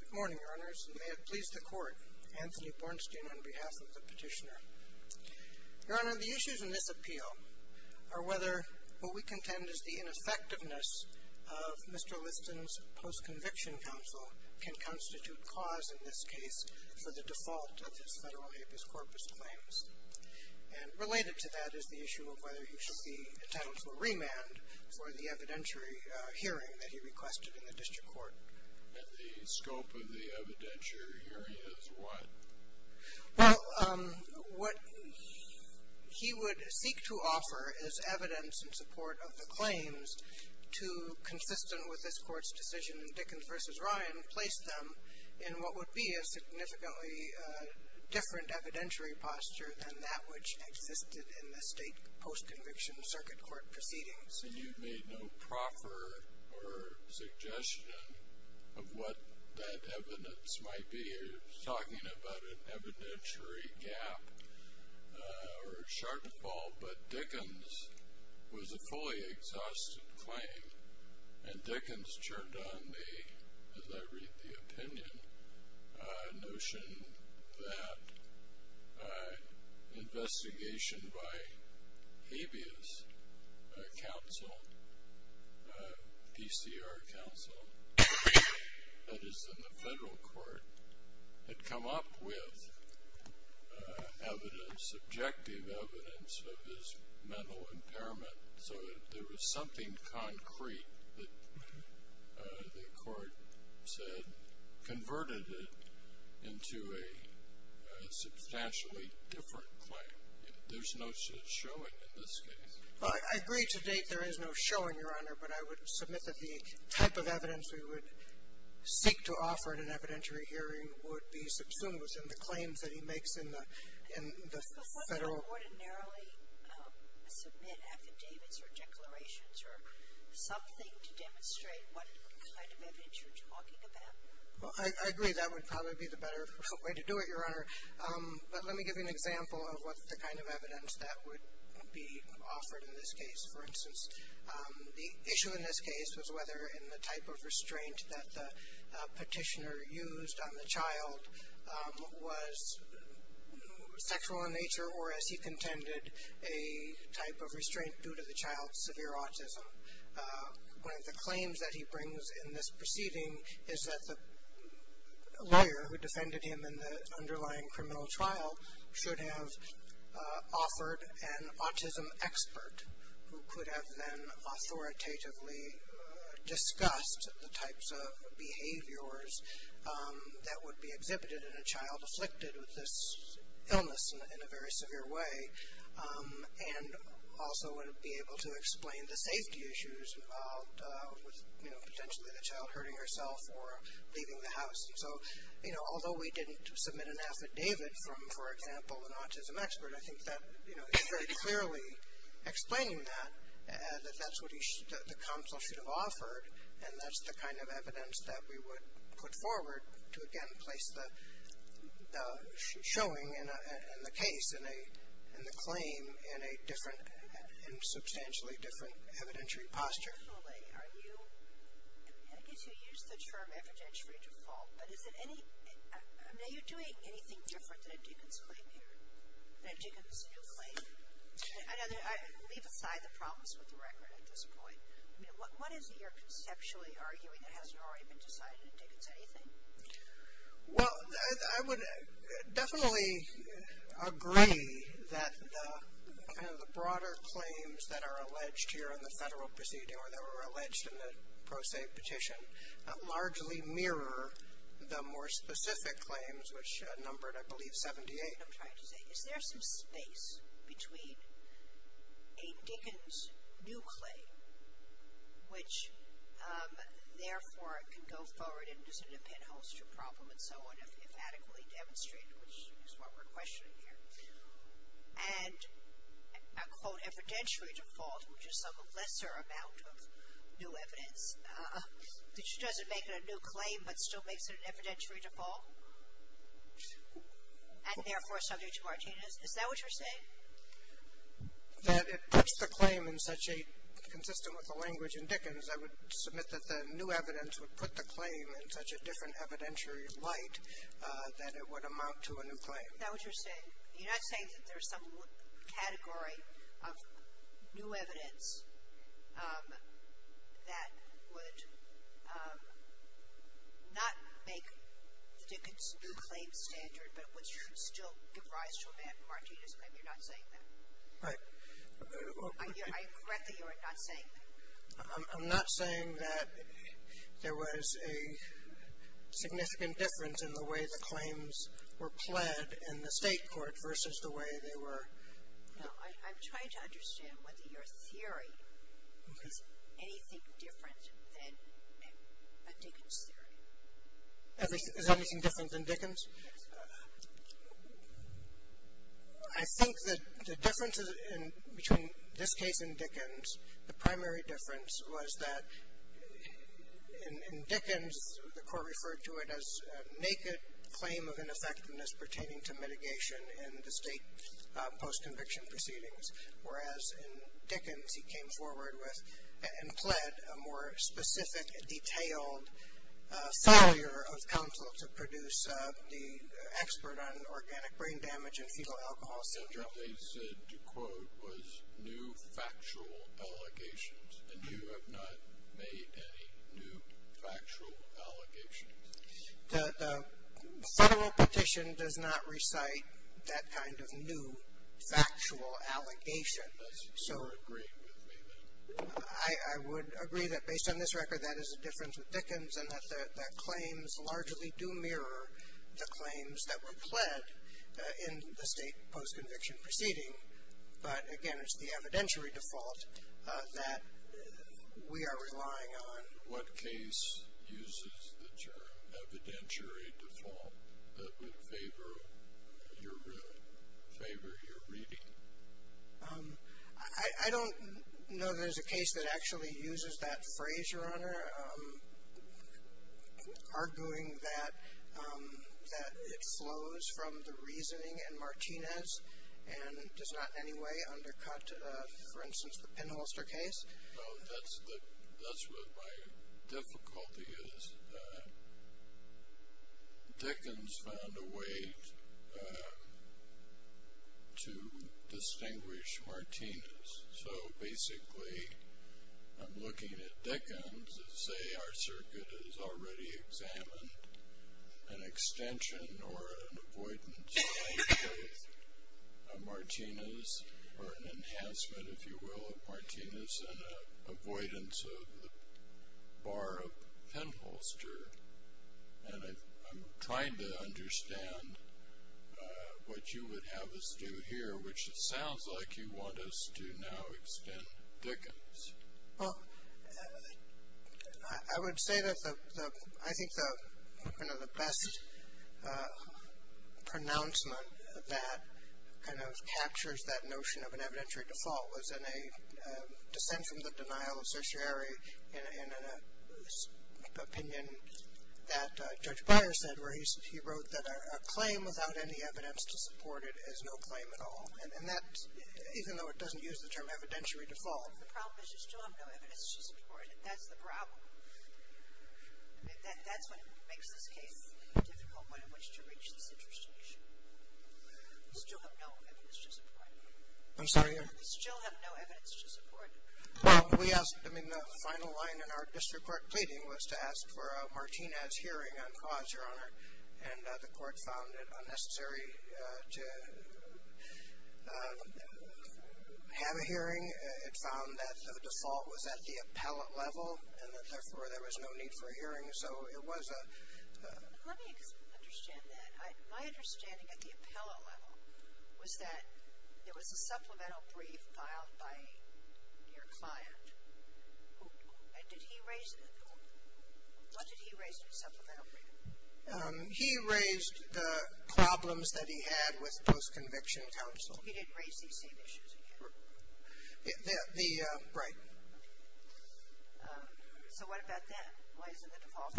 Good morning, Your Honors, and may it please the Court, Anthony Bornstein on behalf of the Petitioner. Your Honor, the issues in this appeal are whether what we contend is the ineffectiveness of Mr. Liston's post-conviction counsel can constitute cause in this case for the default of his federal habeas corpus claims. And related to that is the issue of whether he should be entitled to a remand for the evidentiary hearing that he requested in the district court. And the scope of the evidentiary hearing is what? Well, what he would seek to offer is evidence in support of the claims to, consistent with this Court's decision in Dickens v. Ryan, place them in what would be a significantly different evidentiary posture than that which existed in the state post-conviction circuit court proceedings. And you've made no proffer or suggestion of what that evidence might be. You're talking about an evidentiary gap or a shortfall. But Dickens was a fully exhausted claim. And Dickens churned on the, as I read the opinion, notion that investigation by habeas counsel, PCR counsel, that is in the federal court, had come up with evidence, subjective evidence of his mental impairment so that there was something concrete that the court said converted it into a substantially different claim. There's no showing in this case. Well, I agree to date there is no showing, Your Honor, but I would submit that the type of evidence we would seek to offer in an evidentiary hearing would be subsumed within the claims that he makes in the federal. Would you ordinarily submit affidavits or declarations or something to demonstrate what kind of evidence you're talking about? Well, I agree that would probably be the better way to do it, Your Honor. But let me give you an example of what the kind of evidence that would be offered in this case. For instance, the issue in this case was whether in the type of restraint that the petitioner used on the child was sexual in nature or as he contended a type of restraint due to the child's severe autism. One of the claims that he brings in this proceeding is that the lawyer who defended him in the underlying criminal trial should have offered an autism expert who could have then authoritatively discussed the types of behaviors that would be exhibited in a child afflicted with this illness in a very severe way and also would be able to explain the safety issues involved with, you know, potentially the child hurting herself or leaving the house. So, you know, although we didn't submit an affidavit from, for example, an autism expert, I think that, you know, he's very clearly explaining that, that that's what the counsel should have offered and that's the kind of evidence that we would put forward to again place the showing in the case, in the claim, in a different and substantially different evidentiary posture. I guess you used the term evidentiary default, but is it any, I mean are you doing anything different than a Diggins claim here, than a Diggins new claim? I know, leave aside the problems with the record at this point. I mean what is it you're conceptually arguing that hasn't already been decided in Diggins anything? Well, I would definitely agree that the kind of the broader claims that are alleged here in the federal proceeding or that were alleged in the pro se petition largely mirror the more specific claims, which numbered, I believe, 78. I'm trying to say, is there some space between a Diggins new claim, which therefore can go forward into a penholster problem and so on if adequately demonstrated, which is what we're questioning here, and a quote evidentiary default, which is some lesser amount of new evidence, which doesn't make it a new claim but still makes it an evidentiary default and therefore subject to Martinez. Is that what you're saying? That it puts the claim in such a, consistent with the language in Diggins, I would submit that the new evidence would put the claim in such a different evidentiary light that it would amount to a new claim. Is that what you're saying? You're not saying that there's some category of new evidence that would not make the Diggins new claim standard but would still give rise to a bad Martinez claim? You're not saying that? Right. Correct me if I'm not saying that. I'm not saying that there was a significant difference in the way the claims were pled in the state court versus the way they were. No, I'm trying to understand whether your theory is anything different than a Diggins theory. Is anything different than Diggins? I think that the difference between this case and Diggins, the primary difference was that in Diggins, the court referred to it as a naked claim of ineffectiveness pertaining to mitigation in the state post-conviction proceedings. Whereas in Diggins, he came forward with and pled a more specific, detailed failure of counsel to produce the expert on organic brain damage and fetal alcohol syndrome. What they said, to quote, was new factual allegations. And you have not made any new factual allegations. The federal petition does not recite that kind of new factual allegation. Unless you're agreeing with me then. I would agree that based on this record, that is a difference with Diggins and that claims largely do mirror the claims that were pled in the state post-conviction proceeding. But, again, it's the evidentiary default that we are relying on. What case uses the term evidentiary default that would favor your reading? I don't know there's a case that actually uses that phrase, Your Honor, arguing that it flows from the reasoning in Martinez and does not in any way undercut, for instance, the pinholster case. Well, that's what my difficulty is. Diggins found a way to distinguish Martinez. So, basically, I'm looking at Diggins and say our circuit has already examined an extension or an avoidance claim of Martinez, or an enhancement, if you will, of Martinez and an avoidance of the bar of pinholster. And I'm trying to understand what you would have us do here, which it sounds like you want us to now extend Diggins. Well, I would say that I think one of the best pronouncements that kind of captures that notion of an evidentiary default was in a dissent from the denial of certiorari in an opinion that Judge Breyer said where he wrote that a claim without any evidence to support it is no claim at all. And that, even though it doesn't use the term evidentiary default. The problem is you still have no evidence to support it. That's the problem. That's what makes this case a difficult one in which to reach this intercession issue. You still have no evidence to support it. I'm sorry? You still have no evidence to support it. Well, we asked, I mean, the final line in our district court pleading was to ask for a Martinez hearing on cause, Your Honor. And the court found it unnecessary to have a hearing. It found that the default was at the appellate level and that therefore there was no need for a hearing. So it was a... Let me understand that. My understanding at the appellate level was that there was a supplemental brief filed by your client. And did he raise, what did he raise in the supplemental brief? He raised the problems that he had with post-conviction counsel. He didn't raise these same issues again. Right. So what about that? Why is it the default?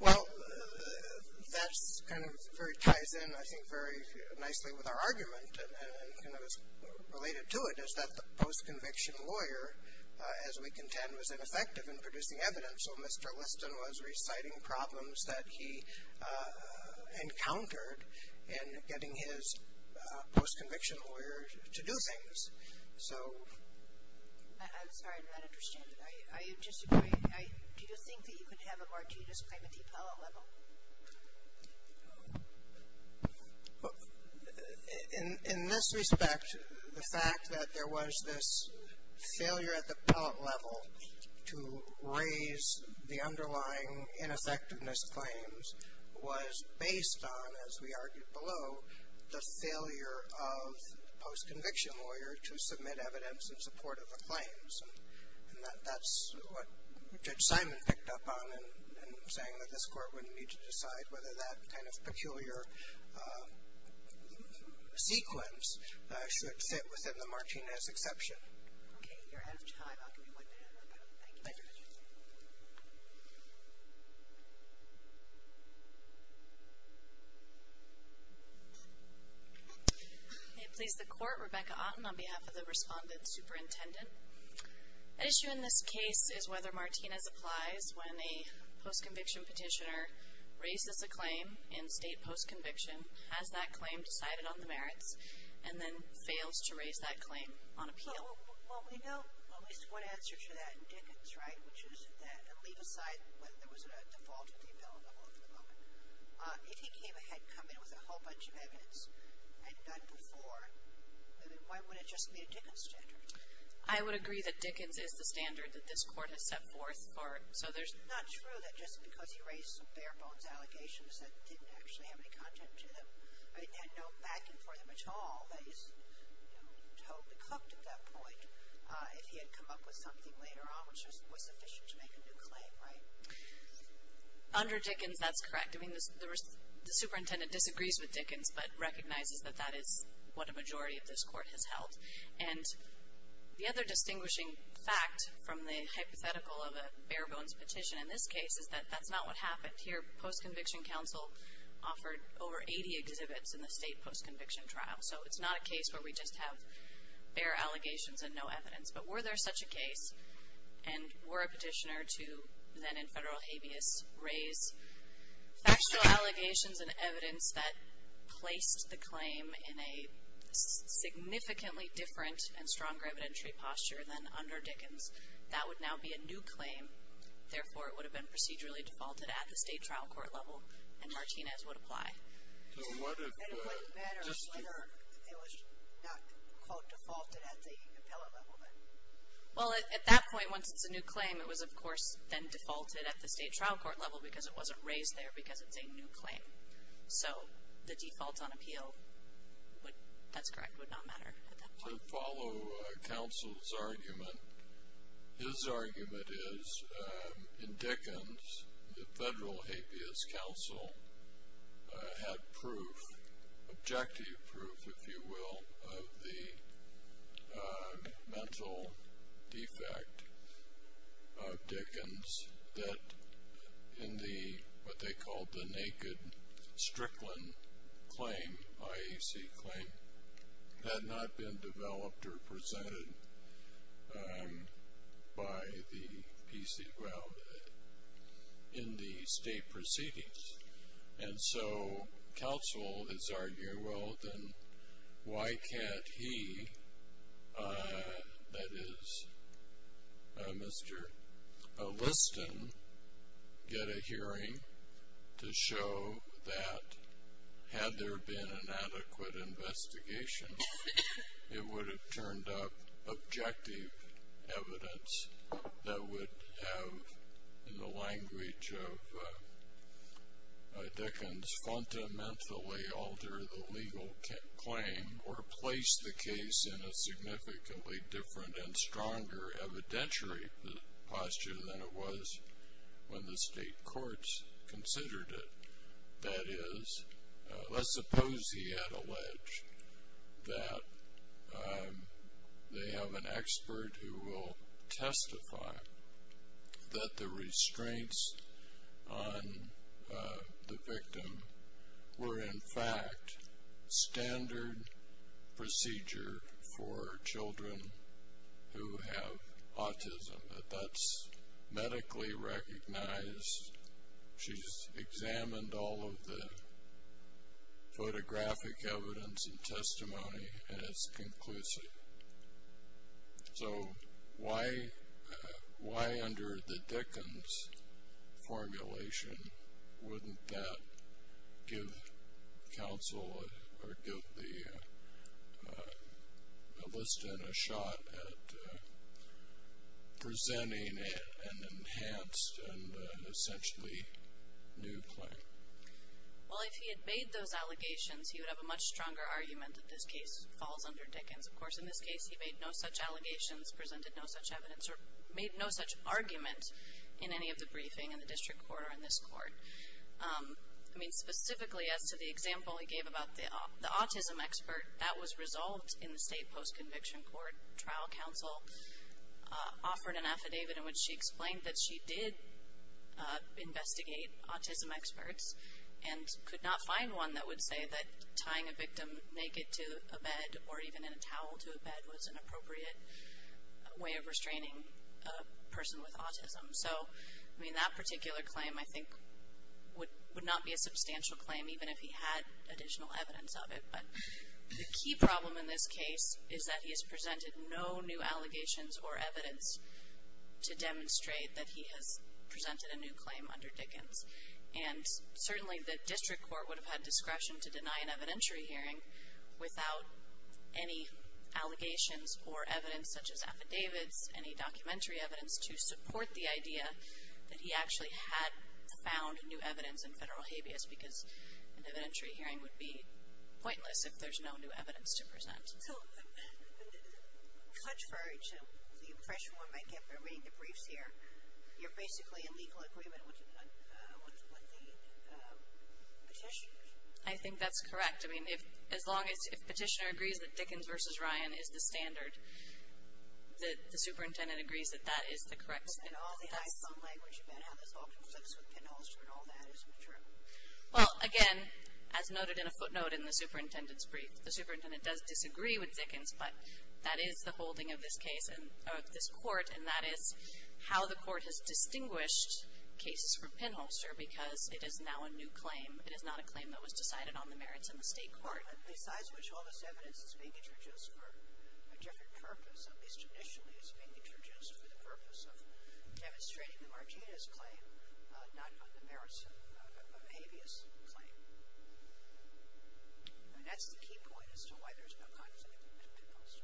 Well, that kind of ties in, I think, very nicely with our argument and is related to it is that the post-conviction lawyer, as we contend, was ineffective in producing evidence. So Mr. Liston was reciting problems that he encountered in getting his post-conviction lawyer to do things. So... I'm sorry, I'm not understanding. Are you disagreeing? Do you think that you could have a Martinez claim at the appellate level? In this respect, the fact that there was this failure at the appellate level to raise the underlying ineffectiveness claims was based on, as we argued below, the failure of the post-conviction lawyer to submit evidence in support of the claims. And that's what Judge Simon picked up on in saying that this Court wouldn't need to decide whether that kind of peculiar sequence should fit within the Martinez exception. Okay, you're out of time. I'll give you one minute. Thank you. Thank you, Judge. May it please the Court, Rebecca Otten on behalf of the Respondent Superintendent. An issue in this case is whether Martinez applies when a post-conviction petitioner raises a claim in state post-conviction, has that claim decided on the merits, and then fails to raise that claim on appeal. Well, we know at least one answer to that in Dickens, right, which is that, and leave aside whether there was a default at the appellate level at the moment, if he came ahead and come in with a whole bunch of evidence and done before, then why would it just be a Dickens standard? I would agree that Dickens is the standard that this Court has set forth. It's not true that just because he raised some bare-bones allegations that didn't actually have any content to them, had no backing for them at all, that he's totally cooked at that point if he had come up with something later on which was sufficient to make a new claim, right? Under Dickens, that's correct. I mean, the Superintendent disagrees with Dickens but recognizes that that is what a majority of this Court has held. And the other distinguishing fact from the hypothetical of a bare-bones petition in this case is that that's not what happened. Here, post-conviction counsel offered over 80 exhibits in the state post-conviction trial. So it's not a case where we just have bare allegations and no evidence. But were there such a case, and were a petitioner to, then in federal habeas, raise factual allegations and evidence that placed the claim in a significantly different and stronger evidentiary posture than under Dickens, that would now be a new claim. Therefore, it would have been procedurally defaulted at the state trial court level and Martinez would apply. And it wouldn't matter if it was not, quote, defaulted at the appellate level then? Well, at that point, once it's a new claim, it was, of course, then defaulted at the state trial court level because it wasn't raised there because it's a new claim. So the default on appeal, that's correct, would not matter at that point. To follow counsel's argument, his argument is, in Dickens, the federal habeas counsel had proof, objective proof, if you will, of the mental defect of Dickens that in what they called the naked Strickland claim, the IAC claim, had not been developed or presented by the PC, well, in the state proceedings. And so counsel is arguing, well, then why can't he, that is, Mr. Liston, get a hearing to show that had there been an adequate investigation, it would have turned up objective evidence that would have, in the language of Dickens, fundamentally altered the legal claim or placed the case in a significantly different and stronger evidentiary posture than it was when the state courts considered it. That is, let's suppose he had alleged that they have an expert who will testify that the restraints on the victim were in fact standard procedure for children who have autism. That that's medically recognized. She's examined all of the photographic evidence and testimony, and it's conclusive. So why under the Dickens formulation wouldn't that give counsel or give Liston a shot at presenting an enhanced and essentially new claim? Well, if he had made those allegations, he would have a much stronger argument that this case falls under Dickens. Of course, in this case, he made no such allegations, presented no such evidence, or made no such argument in any of the briefing in the district court or in this court. I mean, specifically as to the example he gave about the autism expert, that was resolved in the state post-conviction court. Trial counsel offered an affidavit in which she explained that she did investigate autism experts and could not find one that would say that tying a victim naked to a bed or even in a towel to a bed was an appropriate way of restraining a person with autism. So, I mean, that particular claim, I think, would not be a substantial claim, even if he had additional evidence of it. But the key problem in this case is that he has presented no new allegations or evidence to demonstrate that he has presented a new claim under Dickens. And certainly the district court would have had discretion to deny an evidentiary hearing without any allegations or evidence, such as affidavits, any documentary evidence, to support the idea that he actually had found new evidence in federal habeas, because an evidentiary hearing would be pointless if there's no new evidence to present. So, to touch for the impression one might get by reading the briefs here, you're basically in legal agreement with the petitioner. I think that's correct. I mean, as long as petitioner agrees that Dickens v. Ryan is the standard, the superintendent agrees that that is the correct statement. But then all the high-thumb language about how this all conflicts with Penn-Holster and all that isn't true. Well, again, as noted in a footnote in the superintendent's brief, the superintendent does disagree with Dickens, but that is the holding of this case, of this court, and that is how the court has distinguished cases from Penn-Holster, because it is now a new claim. It is not a claim that was decided on the merits in the state court. Besides which, all this evidence is being introduced for a different purpose, at least initially it's being introduced for the purpose of demonstrating the Martinez claim, not on the merits of a habeas claim. I mean, that's the key point as to why there's no conflict with Penn-Holster.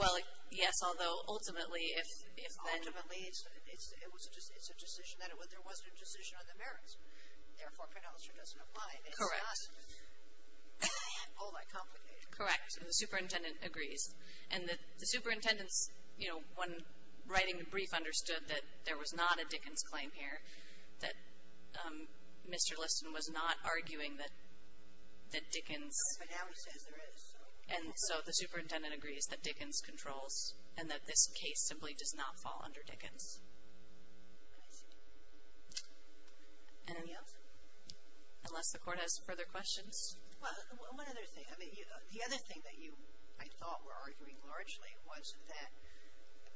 Well, yes, although ultimately, if then. Ultimately, it's a decision that there wasn't a decision on the merits. Therefore, Penn-Holster doesn't apply. Correct. It's not all that complicated. Correct. And the superintendent agrees. And the superintendent's, you know, when writing the brief, she understood that there was not a Dickens claim here, that Mr. Liston was not arguing that Dickens. But now he says there is. And so the superintendent agrees that Dickens controls and that this case simply does not fall under Dickens. Anybody else? Unless the court has further questions. Well, one other thing. I mean, the other thing that you, I thought, were arguing largely was that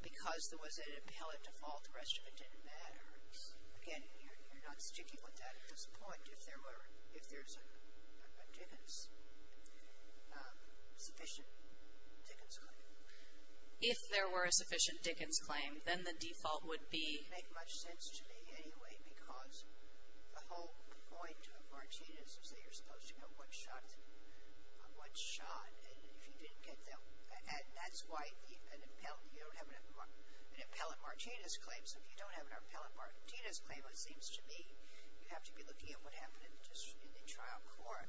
because there was an appellate default, the rest of it didn't matter. Again, you're not sticking with that at this point. If there were, if there's a Dickens, sufficient Dickens claim. If there were a sufficient Dickens claim, then the default would be. It wouldn't make much sense to me anyway because the whole point of Martinez is that you're supposed to know what's shot and if you didn't get that. And that's why an appellate, you don't have an appellate Martinez claim. So if you don't have an appellate Martinez claim, it seems to me, you have to be looking at what happened in the trial court.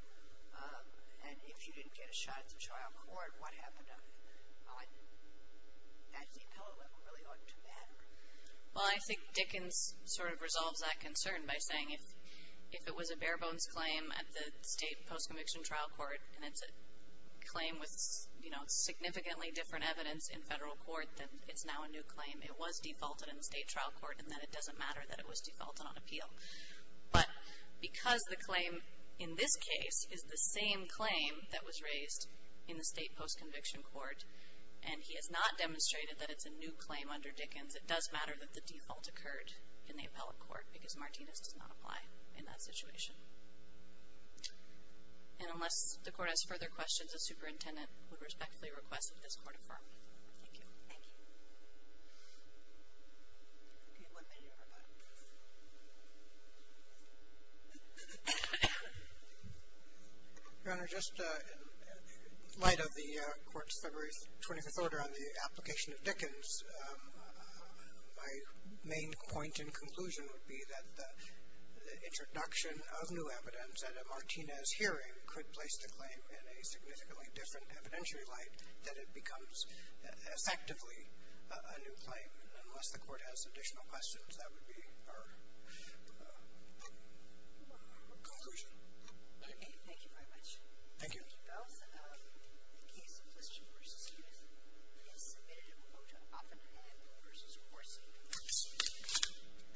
And if you didn't get a shot at the trial court, what happened to it? Actually, the appellate level really oughtn't to matter. Well, I think Dickens sort of resolves that concern by saying if it was a bare-bones claim at the state post-conviction trial court and it's a claim with significantly different evidence in federal court, then it's now a new claim. It was defaulted in the state trial court and then it doesn't matter that it was defaulted on appeal. But because the claim in this case is the same claim that was raised in the state post-conviction court and he has not demonstrated that it's a new claim under Dickens, it does matter that the default occurred in the appellate court because Martinez does not apply in that situation. And unless the court has further questions, the superintendent would respectfully request that this court affirm. Thank you. Thank you. Your Honor, just in light of the court's February 25th order on the application of Dickens, my main point and conclusion would be that the introduction of new evidence at a Martinez hearing could place the claim in a significantly different evidentiary light that it becomes effectively a new claim. And unless the court has additional questions, that would be our conclusion. Thank you very much. Thank you.